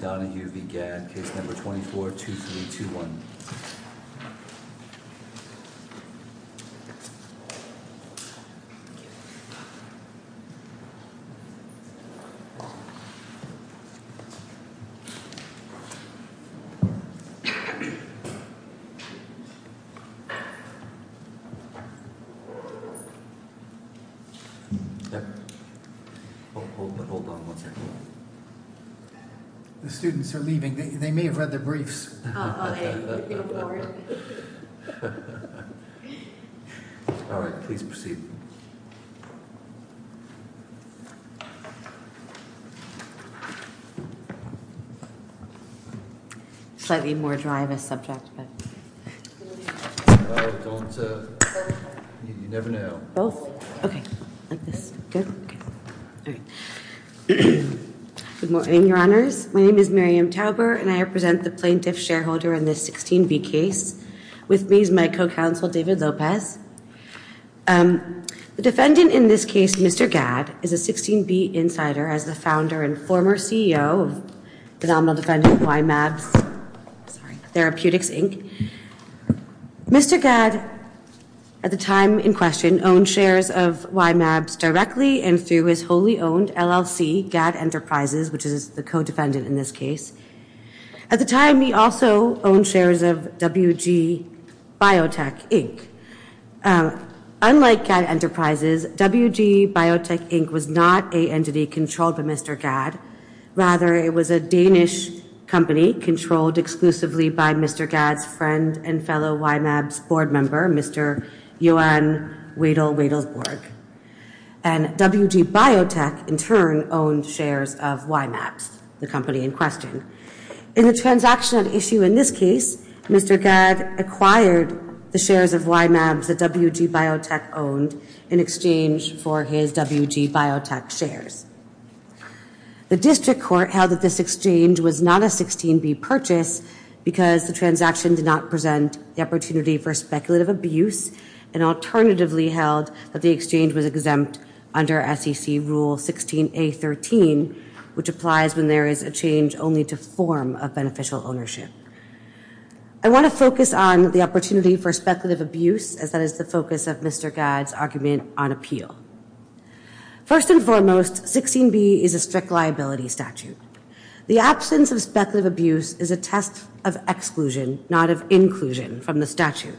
Case No. 24-2321. Please stand by. All right, please proceed. Slightly more dry of a subject, but. Don't you never know both. Good morning, your honors. My name is Miriam Tauber, and I represent the plaintiff shareholder in this 16B case. With me is my co-counsel, David Lopez. The defendant in this case, Mr. Gad, is a 16B insider as the founder and former CEO of the nominal defendant of YMABS Therapeutics, Inc. Mr. Gad, at the time in question, owned shares of YMABS directly and through his wholly owned LLC, Gad Enterprises, which is the co-defendant in this case. At the time, he also owned shares of WG Biotech, Inc. Unlike Gad Enterprises, WG Biotech, Inc. was not a entity controlled by Mr. Gad. Rather, it was a Danish company controlled exclusively by Mr. Gad's friend and fellow YMABS board member, Mr. Johan Wedel Wedelborg. And WG Biotech, in turn, owned shares of YMABS, the company in question. In the transaction at issue in this case, Mr. Gad acquired the shares of YMABS that WG Biotech owned in exchange for his WG Biotech shares. The district court held that this exchange was not a 16B purchase because the transaction did not present the opportunity for speculative abuse. And alternatively held that the exchange was exempt under SEC Rule 16A.13, which applies when there is a change only to form of beneficial ownership. I want to focus on the opportunity for speculative abuse as that is the focus of Mr. Gad's argument on appeal. First and foremost, 16B is a strict liability statute. The absence of speculative abuse is a test of exclusion, not of inclusion from the statute.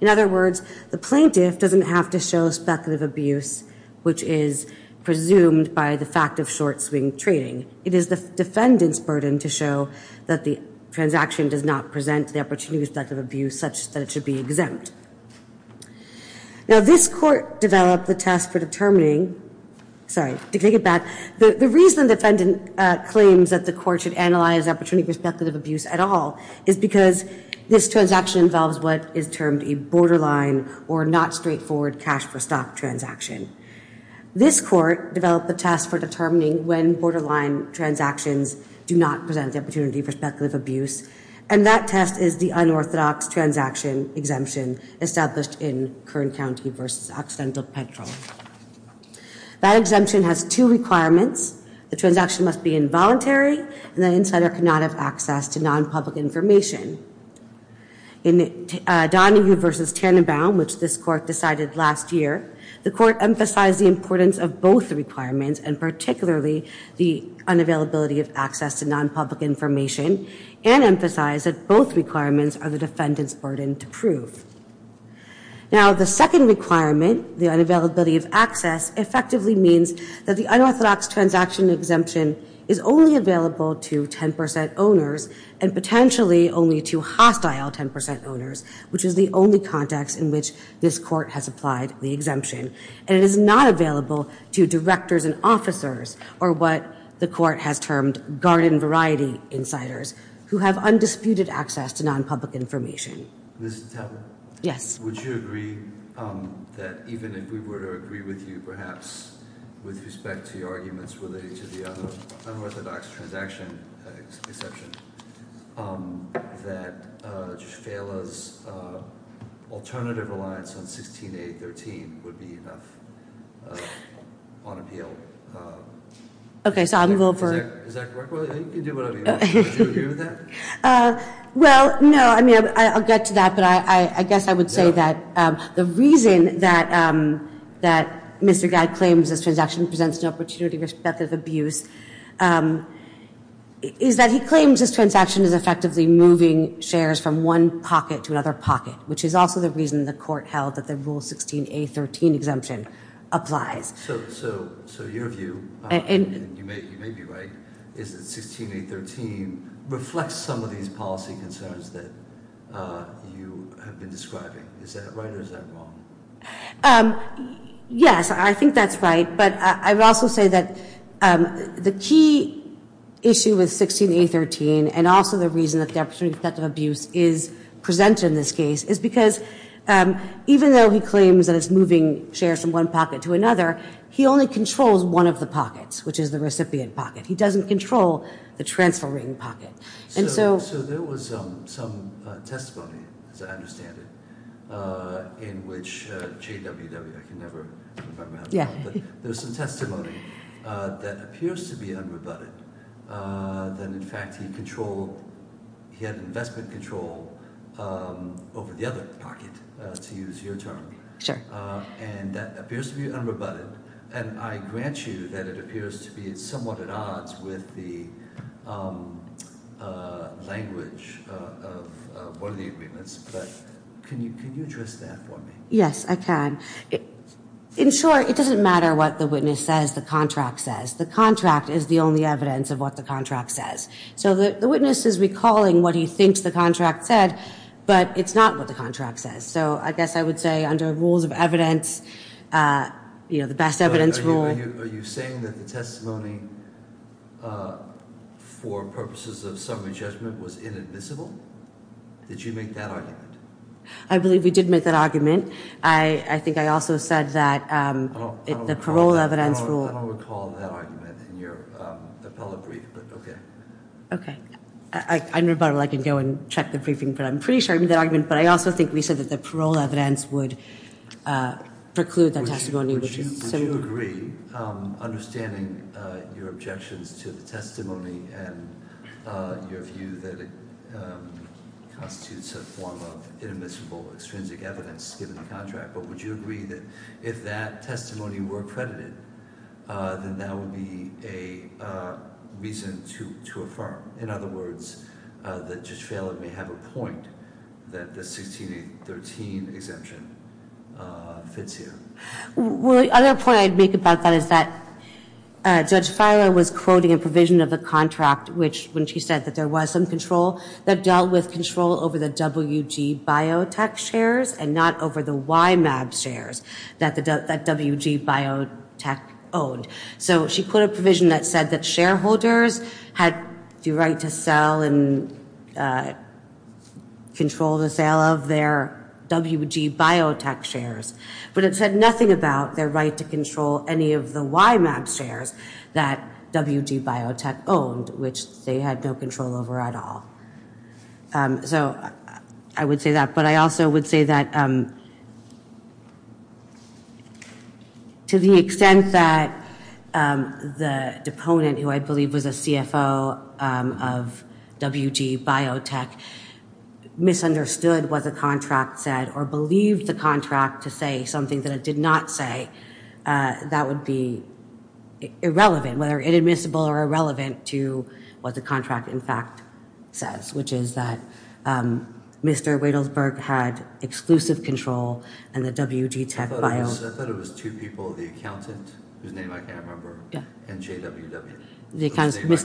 In other words, the plaintiff doesn't have to show speculative abuse, which is presumed by the fact of short swing trading. It is the defendant's burden to show that the transaction does not present the opportunity for speculative abuse such that it should be exempt. Now, this court developed the test for determining, sorry, to take it back. The reason the defendant claims that the court should analyze opportunity for speculative abuse at all is because this transaction involves what is termed a borderline or not straightforward cash for stock transaction. This court developed the test for determining when borderline transactions do not present the opportunity for speculative abuse. And that test is the unorthodox transaction exemption established in Kern County versus Occidental Petrol. That exemption has two requirements. The transaction must be involuntary and the insider cannot have access to non-public information. In Donahue versus Tannenbaum, which this court decided last year, the court emphasized the importance of both requirements and particularly the unavailability of access to non-public information and emphasized that both requirements are the defendant's burden to prove. Now, the second requirement, the unavailability of access, effectively means that the unorthodox transaction exemption is only available to 10% owners and potentially only to hostile 10% owners, which is the only context in which this court has applied the exemption. And it is not available to directors and officers or what the court has termed garden variety insiders who have undisputed access to non-public information. Ms. Tapper? Yes. Would you agree that even if we were to agree with you, perhaps with respect to your arguments related to the unorthodox transaction exception, that Shafala's alternative reliance on 16A13 would be enough on appeal? Okay, so I will vote for... Is that correct? Well, you can do whatever you want. Do you agree with that? Well, no. I mean, I'll get to that, but I guess I would say that the reason that Mr. Guy claims this transaction presents an opportunity with respect of abuse is that he claims this transaction is effectively moving shares from one pocket to another pocket, which is also the reason the court held that the Rule 16A13 exemption applies. So your view, and you may be right, is that 16A13 reflects some of these policy concerns that you have been describing. Is that right or is that wrong? Yes, I think that's right, but I would also say that the key issue with 16A13 and also the reason that the opportunity with respect to abuse is presented in this case is because even though he claims that it's moving shares from one pocket to another, he only controls one of the pockets, which is the recipient pocket. He doesn't control the transferring pocket. So there was some testimony, as I understand it, in which JWW, I can never remember how to call it, but there was some testimony that appears to be unrebutted, that in fact he had investment control over the other pocket, to use your term. Sure. And that appears to be unrebutted, and I grant you that it appears to be somewhat at odds with the language of one of the agreements, but can you address that for me? Yes, I can. In short, it doesn't matter what the witness says, the contract says. The contract is the only evidence of what the contract says. So the witness is recalling what he thinks the contract said, but it's not what the contract says. So I guess I would say under rules of evidence, you know, the best evidence rule. Are you saying that the testimony for purposes of summary judgment was inadmissible? Did you make that argument? I believe we did make that argument. I think I also said that the parole evidence rule. I don't recall that argument in your appellate brief, but okay. Okay. I can go and check the briefing, but I'm pretty sure I made that argument, but I also think we said that the parole evidence would preclude that testimony. Would you agree, understanding your objections to the testimony and your view that it constitutes a form of inadmissible extrinsic evidence given the contract, but would you agree that if that testimony were accredited, then that would be a reason to affirm? In other words, that Judge Feiler may have a point that the 1613 exemption fits here. Well, the other point I'd make about that is that Judge Feiler was quoting a provision of the contract, which when she said that there was some control, that dealt with control over the WG biotech shares and not over the YMAB shares that WG biotech owned. So she put a provision that said that shareholders had the right to sell and control the sale of their WG biotech shares, but it said nothing about their right to control any of the YMAB shares that WG biotech owned, which they had no control over at all. So I would say that, but I also would say that to the extent that the deponent, who I believe was a CFO of WG biotech, misunderstood what the contract said or believed the contract to say something that it did not say, that would be irrelevant, whether inadmissible or irrelevant to what the contract in fact says, which is that Mr. Wadelsberg had exclusive control in the WG biotech. I thought it was two people, the accountant, whose name I can't remember, and JWW. The accountant is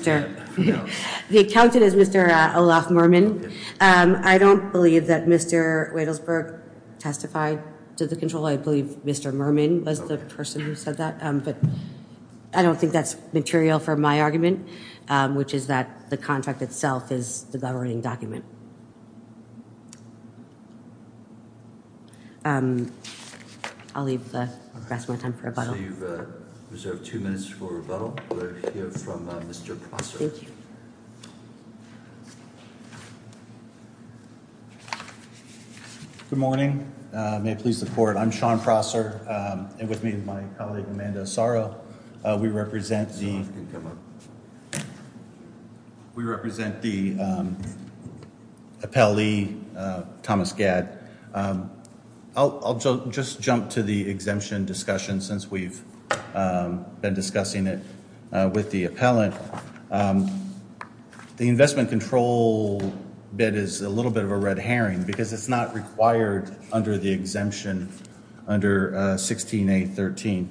Mr. Olaf Mermin. I don't believe that Mr. Wadelsberg testified to the control. I believe Mr. Mermin was the person who said that, but I don't think that's material for my argument, which is that the contract itself is the governing document. I'll leave the rest of my time for rebuttal. So you've reserved two minutes for rebuttal. We'll hear from Mr. Prosser. Thank you. Good morning. May I please support? I'm Sean Prosser, and with me is my colleague Amanda Asaro. We represent the appellee, Thomas Gadd. I'll just jump to the exemption discussion since we've been discussing it with the appellant. The investment control bid is a little bit of a red herring because it's not required under the exemption under 16A13.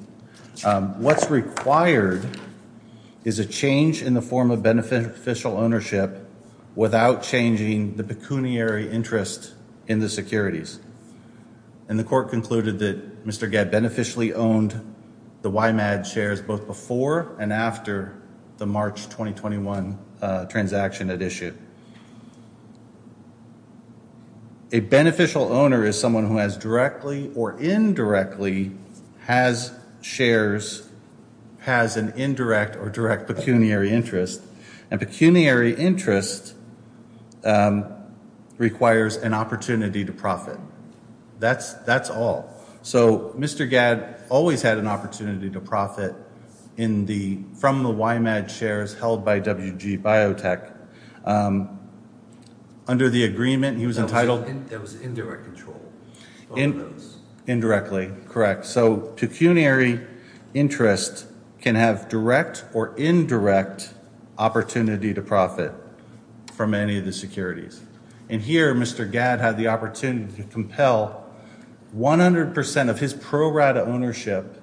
What's required is a change in the form of beneficial ownership without changing the pecuniary interest in the securities. And the court concluded that Mr. Gadd beneficially owned the Wymad shares both before and after the March 2021 transaction had issued. A beneficial owner is someone who has directly or indirectly has shares, has an indirect or direct pecuniary interest. And pecuniary interest requires an opportunity to profit. That's all. So Mr. Gadd always had an opportunity to profit from the Wymad shares held by WG Biotech. Under the agreement, he was entitled- That was indirect control. Indirectly, correct. So pecuniary interest can have direct or indirect opportunity to profit from any of the securities. And here, Mr. Gadd had the opportunity to compel 100% of his pro rata ownership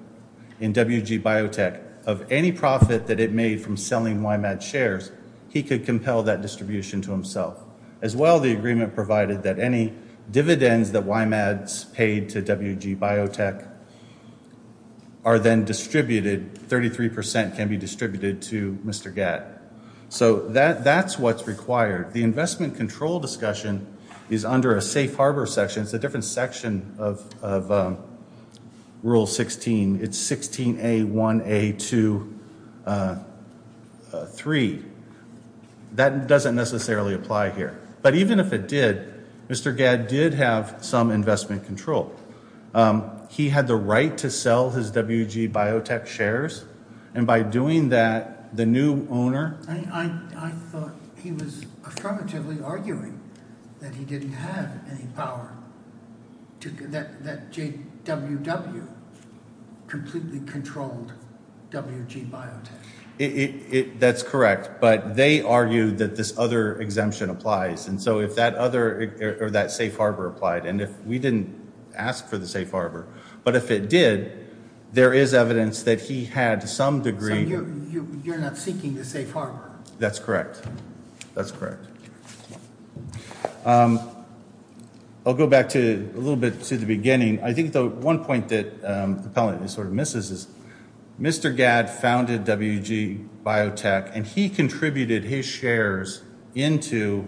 in WG Biotech of any profit that it made from selling Wymad shares. He could compel that distribution to himself. As well, the agreement provided that any dividends that Wymads paid to WG Biotech are then distributed, 33% can be distributed to Mr. Gadd. So that's what's required. The investment control discussion is under a safe harbor section. It's a different section of Rule 16. It's 16A1A23. That doesn't necessarily apply here. But even if it did, Mr. Gadd did have some investment control. He had the right to sell his WG Biotech shares. And by doing that, the new owner- I thought he was affirmatively arguing that he didn't have any power, that JWW completely controlled WG Biotech. That's correct. But they argued that this other exemption applies. And so if that other- or that safe harbor applied. And we didn't ask for the safe harbor. But if it did, there is evidence that he had some degree- So you're not seeking the safe harbor? That's correct. That's correct. I'll go back a little bit to the beginning. I think the one point that the appellant sort of misses is Mr. Gadd founded WG Biotech. And he contributed his shares into-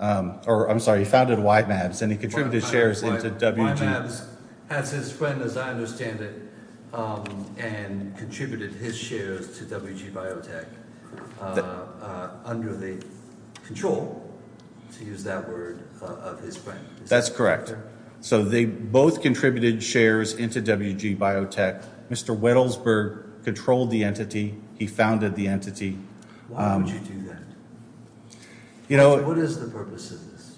or, I'm sorry, he founded YMABS. And he contributed shares into WG- YMABS has his friend, as I understand it, and contributed his shares to WG Biotech under the control, to use that word, of his friend. That's correct. So they both contributed shares into WG Biotech. Mr. Wettelsberg controlled the entity. He founded the entity. Why would you do that? You know- What is the purpose of this?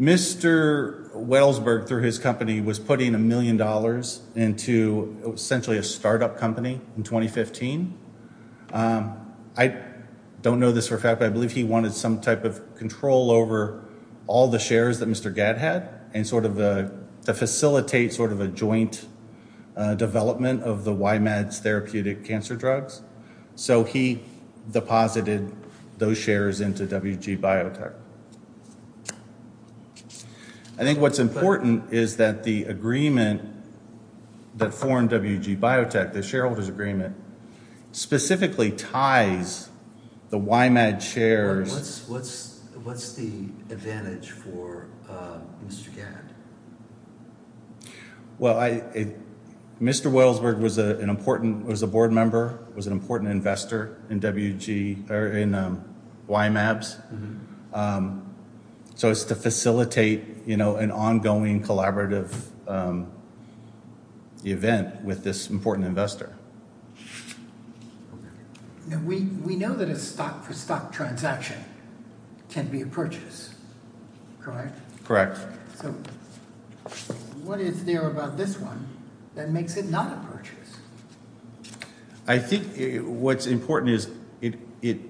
Mr. Wettelsberg, through his company, was putting a million dollars into essentially a startup company in 2015. I don't know this for a fact, but I believe he wanted some type of control over all the shares that Mr. Gadd had, and sort of to facilitate sort of a joint development of the YMABS therapeutic cancer drugs. So he deposited those shares into WG Biotech. I think what's important is that the agreement that formed WG Biotech, the shareholders' agreement, specifically ties the YMABS shares- What's the advantage for Mr. Gadd? Well, Mr. Wettelsberg was an important board member, was an important investor in YMABS. So it's to facilitate an ongoing collaborative event with this important investor. We know that a stock-for-stock transaction can be a purchase, correct? Correct. So what is there about this one that makes it not a purchase? I think what's important is it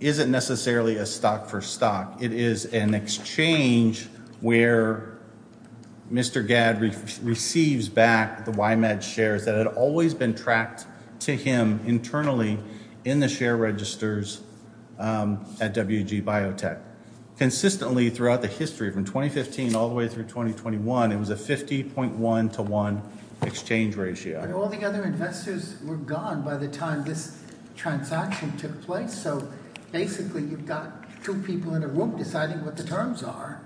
isn't necessarily a stock-for-stock. It is an exchange where Mr. Gadd receives back the YMABS shares that had always been tracked to him internally in the share registers at WG Biotech. Consistently throughout the history, from 2015 all the way through 2021, it was a 50.1 to 1 exchange ratio. But all the other investors were gone by the time this transaction took place. So basically you've got two people in a room deciding what the terms are.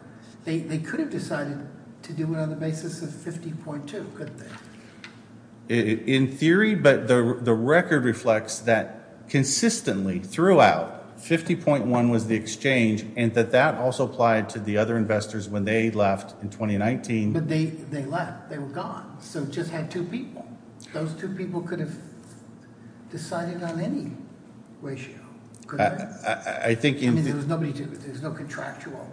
They could have decided to do it on the basis of 50.2, couldn't they? In theory, but the record reflects that consistently throughout, 50.1 was the exchange. And that that also applied to the other investors when they left in 2019. But they left. They were gone. So it just had two people. Those two people could have decided on any ratio, couldn't they? I think... I mean, there was nobody to... there's no contractual...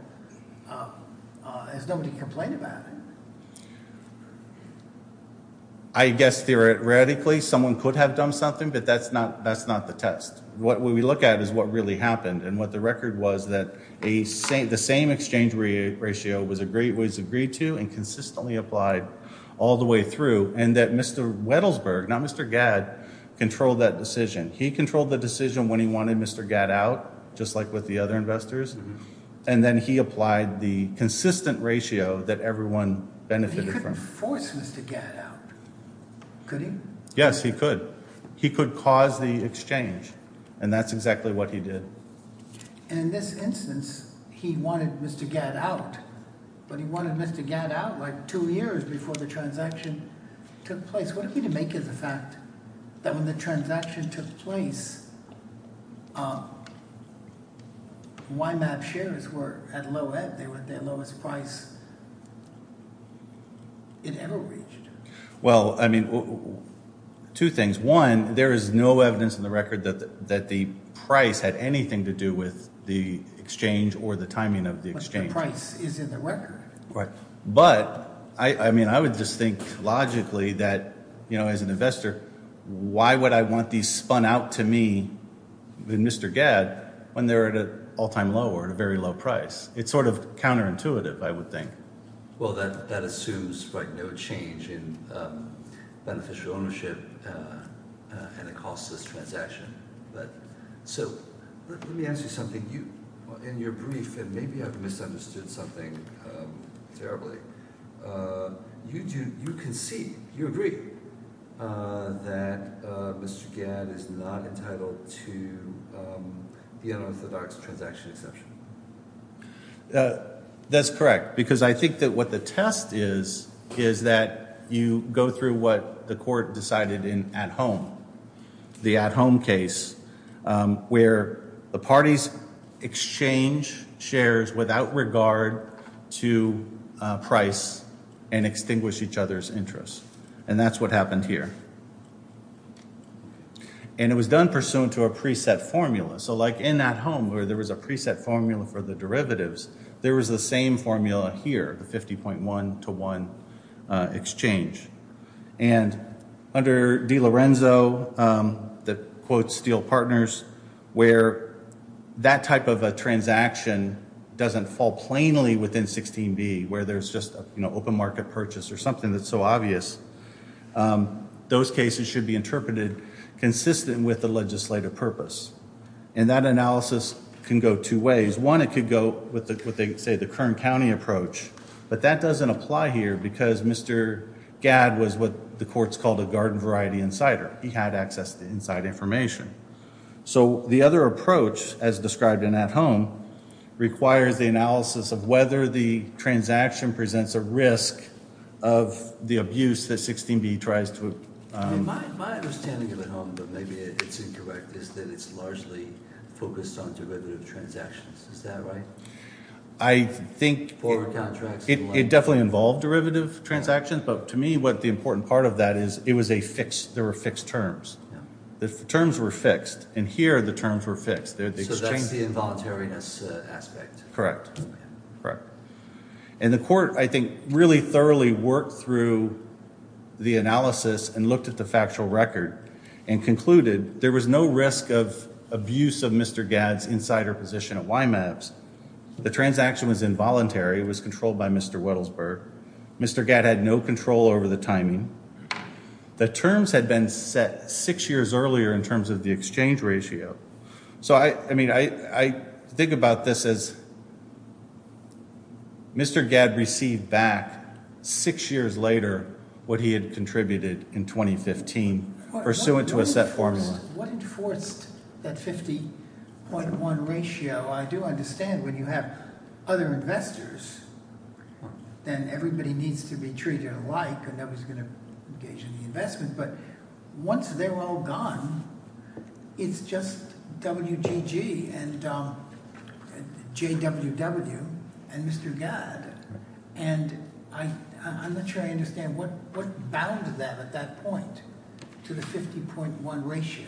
there's nobody to complain about it. I guess, theoretically, someone could have done something, but that's not the test. What we look at is what really happened. And what the record was that the same exchange ratio was agreed to and consistently applied all the way through. And that Mr. Wettelsberg, not Mr. Gadd, controlled that decision. He controlled the decision when he wanted Mr. Gadd out, just like with the other investors. And then he applied the consistent ratio that everyone benefited from. He didn't force Mr. Gadd out, could he? Yes, he could. He could cause the exchange. And that's exactly what he did. And in this instance, he wanted Mr. Gadd out. But he wanted Mr. Gadd out, like, two years before the transaction took place. What I'm trying to make is the fact that when the transaction took place, YMAP shares were at low ebb. They were at their lowest price it ever reached. Well, I mean, two things. One, there is no evidence in the record that the price had anything to do with the exchange or the timing of the exchange. But the price is in the record. Right. But, I mean, I would just think logically that, you know, as an investor, why would I want these spun out to me and Mr. Gadd when they're at an all-time low or at a very low price? It's sort of counterintuitive, I would think. Well, that assumes, right, no change in beneficial ownership and the cost of this transaction. So let me ask you something. In your brief, and maybe I've misunderstood something terribly, you concede, you agree that Mr. Gadd is not entitled to the unorthodox transaction exception. That's correct. Because I think that what the test is, is that you go through what the court decided in at-home. The at-home case where the parties exchange shares without regard to price and extinguish each other's interest. And that's what happened here. And it was done pursuant to a preset formula. So like in at-home where there was a preset formula for the derivatives, there was the same formula here, the 50.1 to 1 exchange. And under DiLorenzo, the quote, steel partners, where that type of a transaction doesn't fall plainly within 16b, where there's just an open market purchase or something that's so obvious. Those cases should be interpreted consistent with the legislative purpose. And that analysis can go two ways. One, it could go with what they say the Kern County approach. But that doesn't apply here because Mr. Gadd was what the courts called a garden variety insider. He had access to inside information. So the other approach, as described in at-home, requires the analysis of whether the transaction presents a risk of the abuse that 16b tries to. My understanding of at-home, but maybe it's incorrect, is that it's largely focused on derivative transactions. Is that right? I think it definitely involved derivative transactions. But to me, what the important part of that is, it was a fixed, there were fixed terms. The terms were fixed. And here, the terms were fixed. So that's the involuntariness aspect. Correct. Correct. And the court, I think, really thoroughly worked through the analysis and looked at the factual record and concluded there was no risk of abuse of Mr. Gadd's insider position at YMAPS. The transaction was involuntary. It was controlled by Mr. Wettelsberg. Mr. Gadd had no control over the timing. The terms had been set six years earlier in terms of the exchange ratio. So, I mean, I think about this as Mr. Gadd received back six years later what he had contributed in 2015 pursuant to a set formula. What enforced that 50.1 ratio? I do understand when you have other investors, then everybody needs to be treated alike and nobody's going to engage in the investment. But once they're all gone, it's just WGG and JWW and Mr. Gadd. And I'm not sure I understand what bound them at that point to the 50.1 ratio.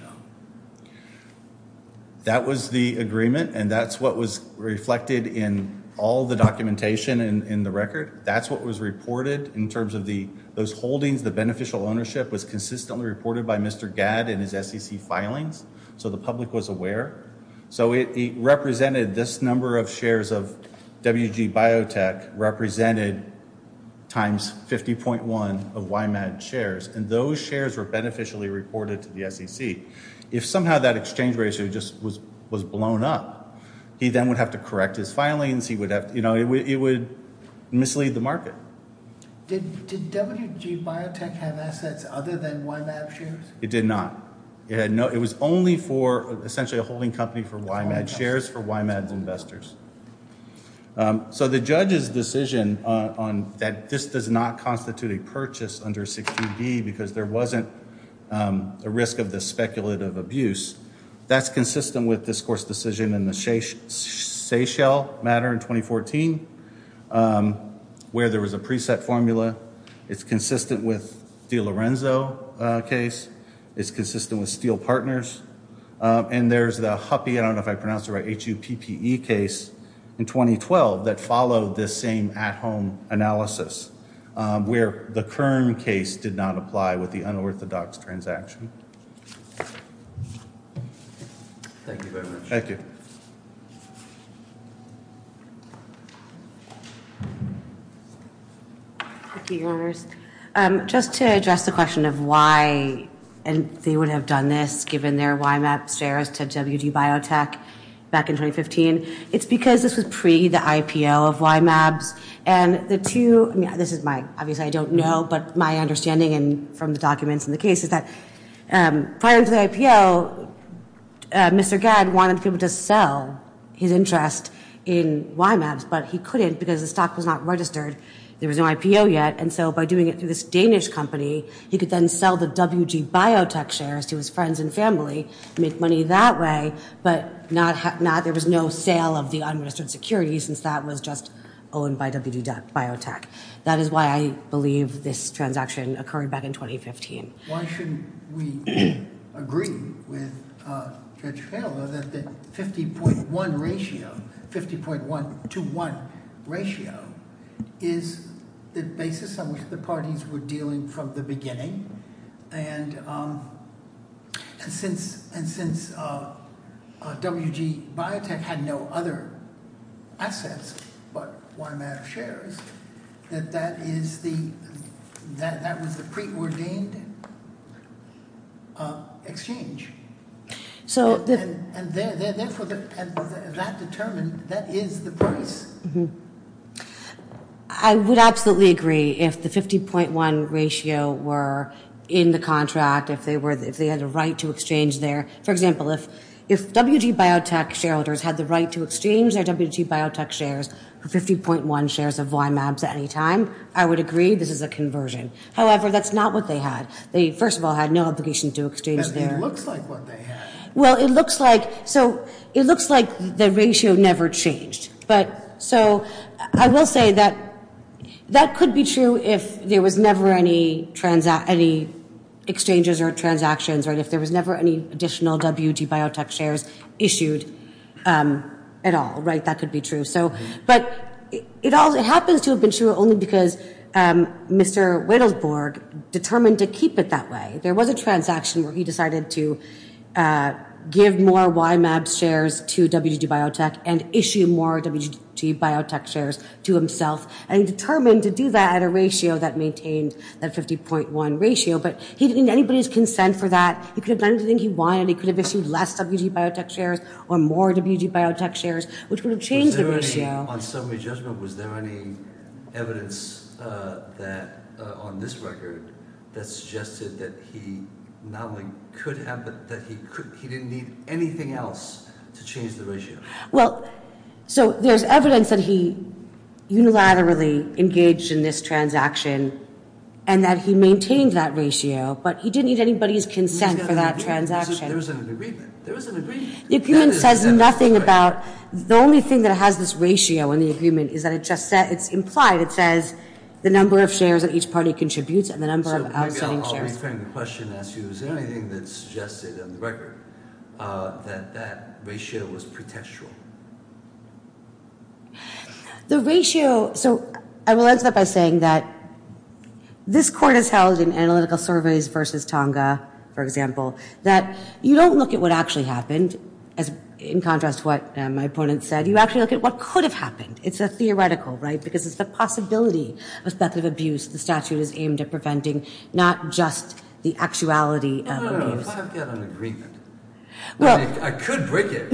That was the agreement, and that's what was reflected in all the documentation in the record. That's what was reported in terms of those holdings. The beneficial ownership was consistently reported by Mr. Gadd in his SEC filings, so the public was aware. So he represented this number of shares of WGBiotech, represented times 50.1 of YMAB shares. And those shares were beneficially reported to the SEC. If somehow that exchange ratio just was blown up, he then would have to correct his filings. It would mislead the market. Did WGBiotech have assets other than YMAB shares? It did not. It was only for essentially a holding company for YMAB shares for YMAB investors. So the judge's decision that this does not constitute a purchase under 60B because there wasn't a risk of this speculative abuse, that's consistent with this court's decision in the Seychelles matter in 2014 where there was a preset formula. It's consistent with the Lorenzo case. It's consistent with Steele Partners. And there's the HUPPE, I don't know if I pronounced it right, H-U-P-P-E case in 2012 that followed this same at-home analysis where the Kern case did not apply with the unorthodox transaction. Thank you very much. Thank you. Thank you, Your Honors. Just to address the question of why they would have done this given their YMAB shares to WGBiotech back in 2015, it's because this was pre-the IPO of YMABs. And the two, this is my, obviously I don't know, but my understanding from the documents in the case is that prior to the IPO, Mr. Gad wanted people to sell his interest in YMABs, but he couldn't because the stock was not registered. There was no IPO yet. And so by doing it through this Danish company, he could then sell the WGBiotech shares to his friends and family, make money that way, but there was no sale of the unregistered securities since that was just owned by WGBiotech. That is why I believe this transaction occurred back in 2015. Why shouldn't we agree with Judge Feller that the 50.1 ratio, 50.1 to 1 ratio is the basis on which the parties were dealing from the beginning. And since WGBiotech had no other assets but YMAB shares, that that is the, that was the preordained exchange. And therefore, that determined, that is the price. I would absolutely agree if the 50.1 ratio were in the contract, if they had a right to exchange their, for example, if WGBiotech shareholders had the right to exchange their WGBiotech shares for 50.1 shares of YMABs at any time, I would agree this is a conversion. However, that's not what they had. They, first of all, had no obligation to exchange their. It looks like what they had. Well, it looks like, so it looks like the ratio never changed. But, so I will say that that could be true if there was never any, any exchanges or transactions, or if there was never any additional WGBiotech shares issued at all, right? That could be true. So, but it happens to have been true only because Mr. Wittelsburg determined to keep it that way. There was a transaction where he decided to give more YMAB shares to WGBiotech and issue more WGBiotech shares to himself. And he determined to do that at a ratio that maintained that 50.1 ratio. But he didn't need anybody's consent for that. He could have done anything he wanted. He could have issued less WGBiotech shares or more WGBiotech shares, which would have changed the ratio. On summary judgment, was there any evidence that, on this record, that suggested that he not only could have, but that he didn't need anything else to change the ratio? Well, so there's evidence that he unilaterally engaged in this transaction and that he maintained that ratio. But he didn't need anybody's consent for that transaction. There was an agreement. There was an agreement. The agreement says nothing about, the only thing that has this ratio in the agreement is that it just says, it's implied. It says the number of shares that each party contributes and the number of outstanding shares. So maybe I'll reframe the question and ask you, is there anything that suggested on the record that that ratio was pretextual? The ratio, so I will answer that by saying that this court has held in analytical surveys versus Tonga, for example, that you don't look at what actually happened, in contrast to what my opponent said. You actually look at what could have happened. It's a theoretical, right? Because it's the possibility of speculative abuse. The statute is aimed at preventing not just the actuality of abuse. No, no, no. I've got an agreement. I could break it.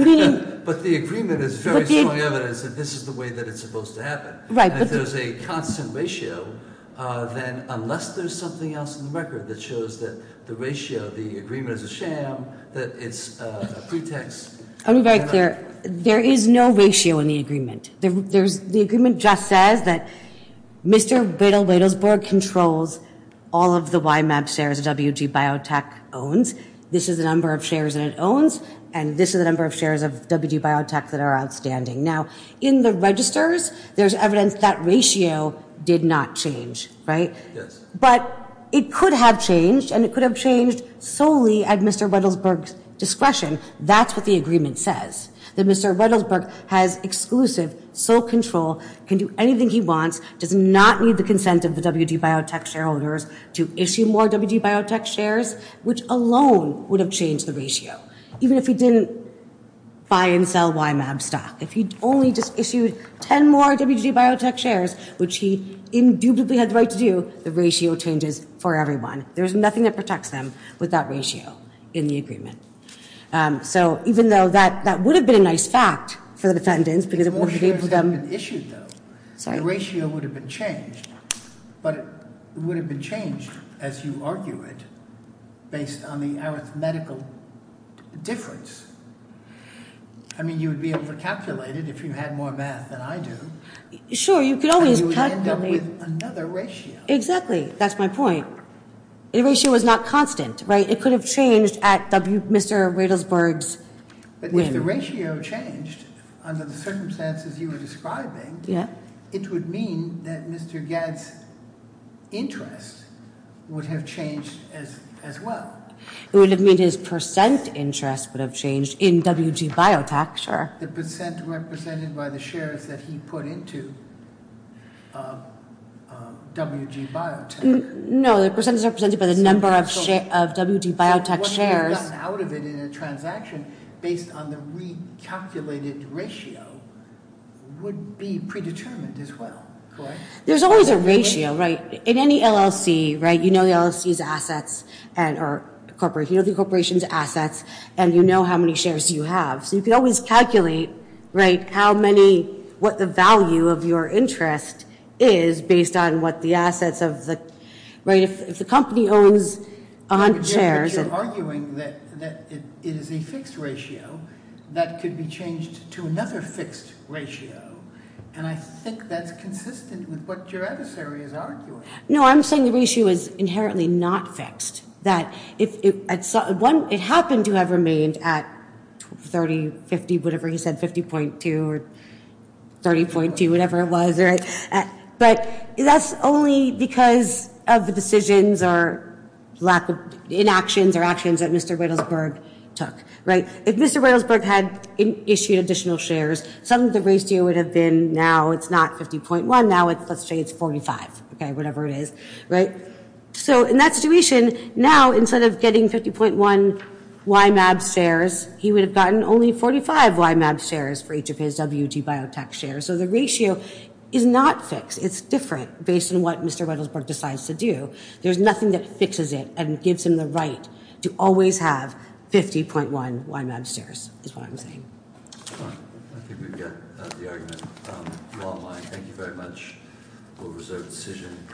But the agreement is very strong evidence that this is the way that it's supposed to happen. Right. And if there's a constant ratio, then unless there's something else in the record that shows that the ratio, the agreement is a sham, that it's a pretext. I'll be very clear. There is no ratio in the agreement. There's, the agreement just says that Mr. Badal-Badal's board controls all of the YMAP shares that WGBiotech owns. This is the number of shares that it owns, and this is the number of shares of WGBiotech that are outstanding. Now, in the registers, there's evidence that ratio did not change, right? Yes. But it could have changed, and it could have changed solely at Mr. Rettelsberg's discretion. That's what the agreement says, that Mr. Rettelsberg has exclusive sole control, can do anything he wants, does not need the consent of the WGBiotech shareholders to issue more WGBiotech shares, which alone would have changed the ratio. Even if he didn't buy and sell YMAP stock, if he'd only just issued 10 more WGBiotech shares, which he indubitably had the right to do, the ratio changes for everyone. There's nothing that protects them with that ratio in the agreement. So, even though that would have been a nice fact for the defendants, because it would have been able for them- If more shares had been issued, though, the ratio would have been changed, but it would have been changed, as you argue it, based on the arithmetical difference. I mean, you would be able to calculate it if you had more math than I do. Sure, you could always- And you would end up with another ratio. Exactly, that's my point. The ratio was not constant, right? It could have changed at Mr. Rettelsberg's whim. But if the ratio changed under the circumstances you were describing, it would mean that Mr. Gad's interest would have changed as well. It would have meant his percent interest would have changed in WGBiotech, sure. The percent represented by the shares that he put into WGBiotech. No, the percent is represented by the number of WGBiotech shares. So what he would have gotten out of it in a transaction based on the recalculated ratio would be predetermined as well, correct? There's always a ratio, right? In any LLC, right, you know the LLC's assets or the corporation's assets, and you know how many shares you have. So you could always calculate, right, how many-what the value of your interest is based on what the assets of the-right? If the company owns 100 shares- But you're arguing that it is a fixed ratio that could be changed to another fixed ratio, and I think that's consistent with what your adversary is arguing. No, I'm saying the ratio is inherently not fixed. It happened to have remained at 30, 50, whatever he said, 50.2 or 30.2, whatever it was. But that's only because of the decisions or lack of-inactions or actions that Mr. Riddlesburg took, right? If Mr. Riddlesburg had issued additional shares, some of the ratio would have been-now it's not 50.1, now let's say it's 45, okay, whatever it is, right? So in that situation, now instead of getting 50.1 YMAB shares, he would have gotten only 45 YMAB shares for each of his WGBiotech shares. So the ratio is not fixed. It's different based on what Mr. Riddlesburg decides to do. There's nothing that fixes it and gives him the right to always have 50.1 YMAB shares is what I'm saying. All right. I think we've got the argument. Well, I thank you very much. We'll reserve the decision.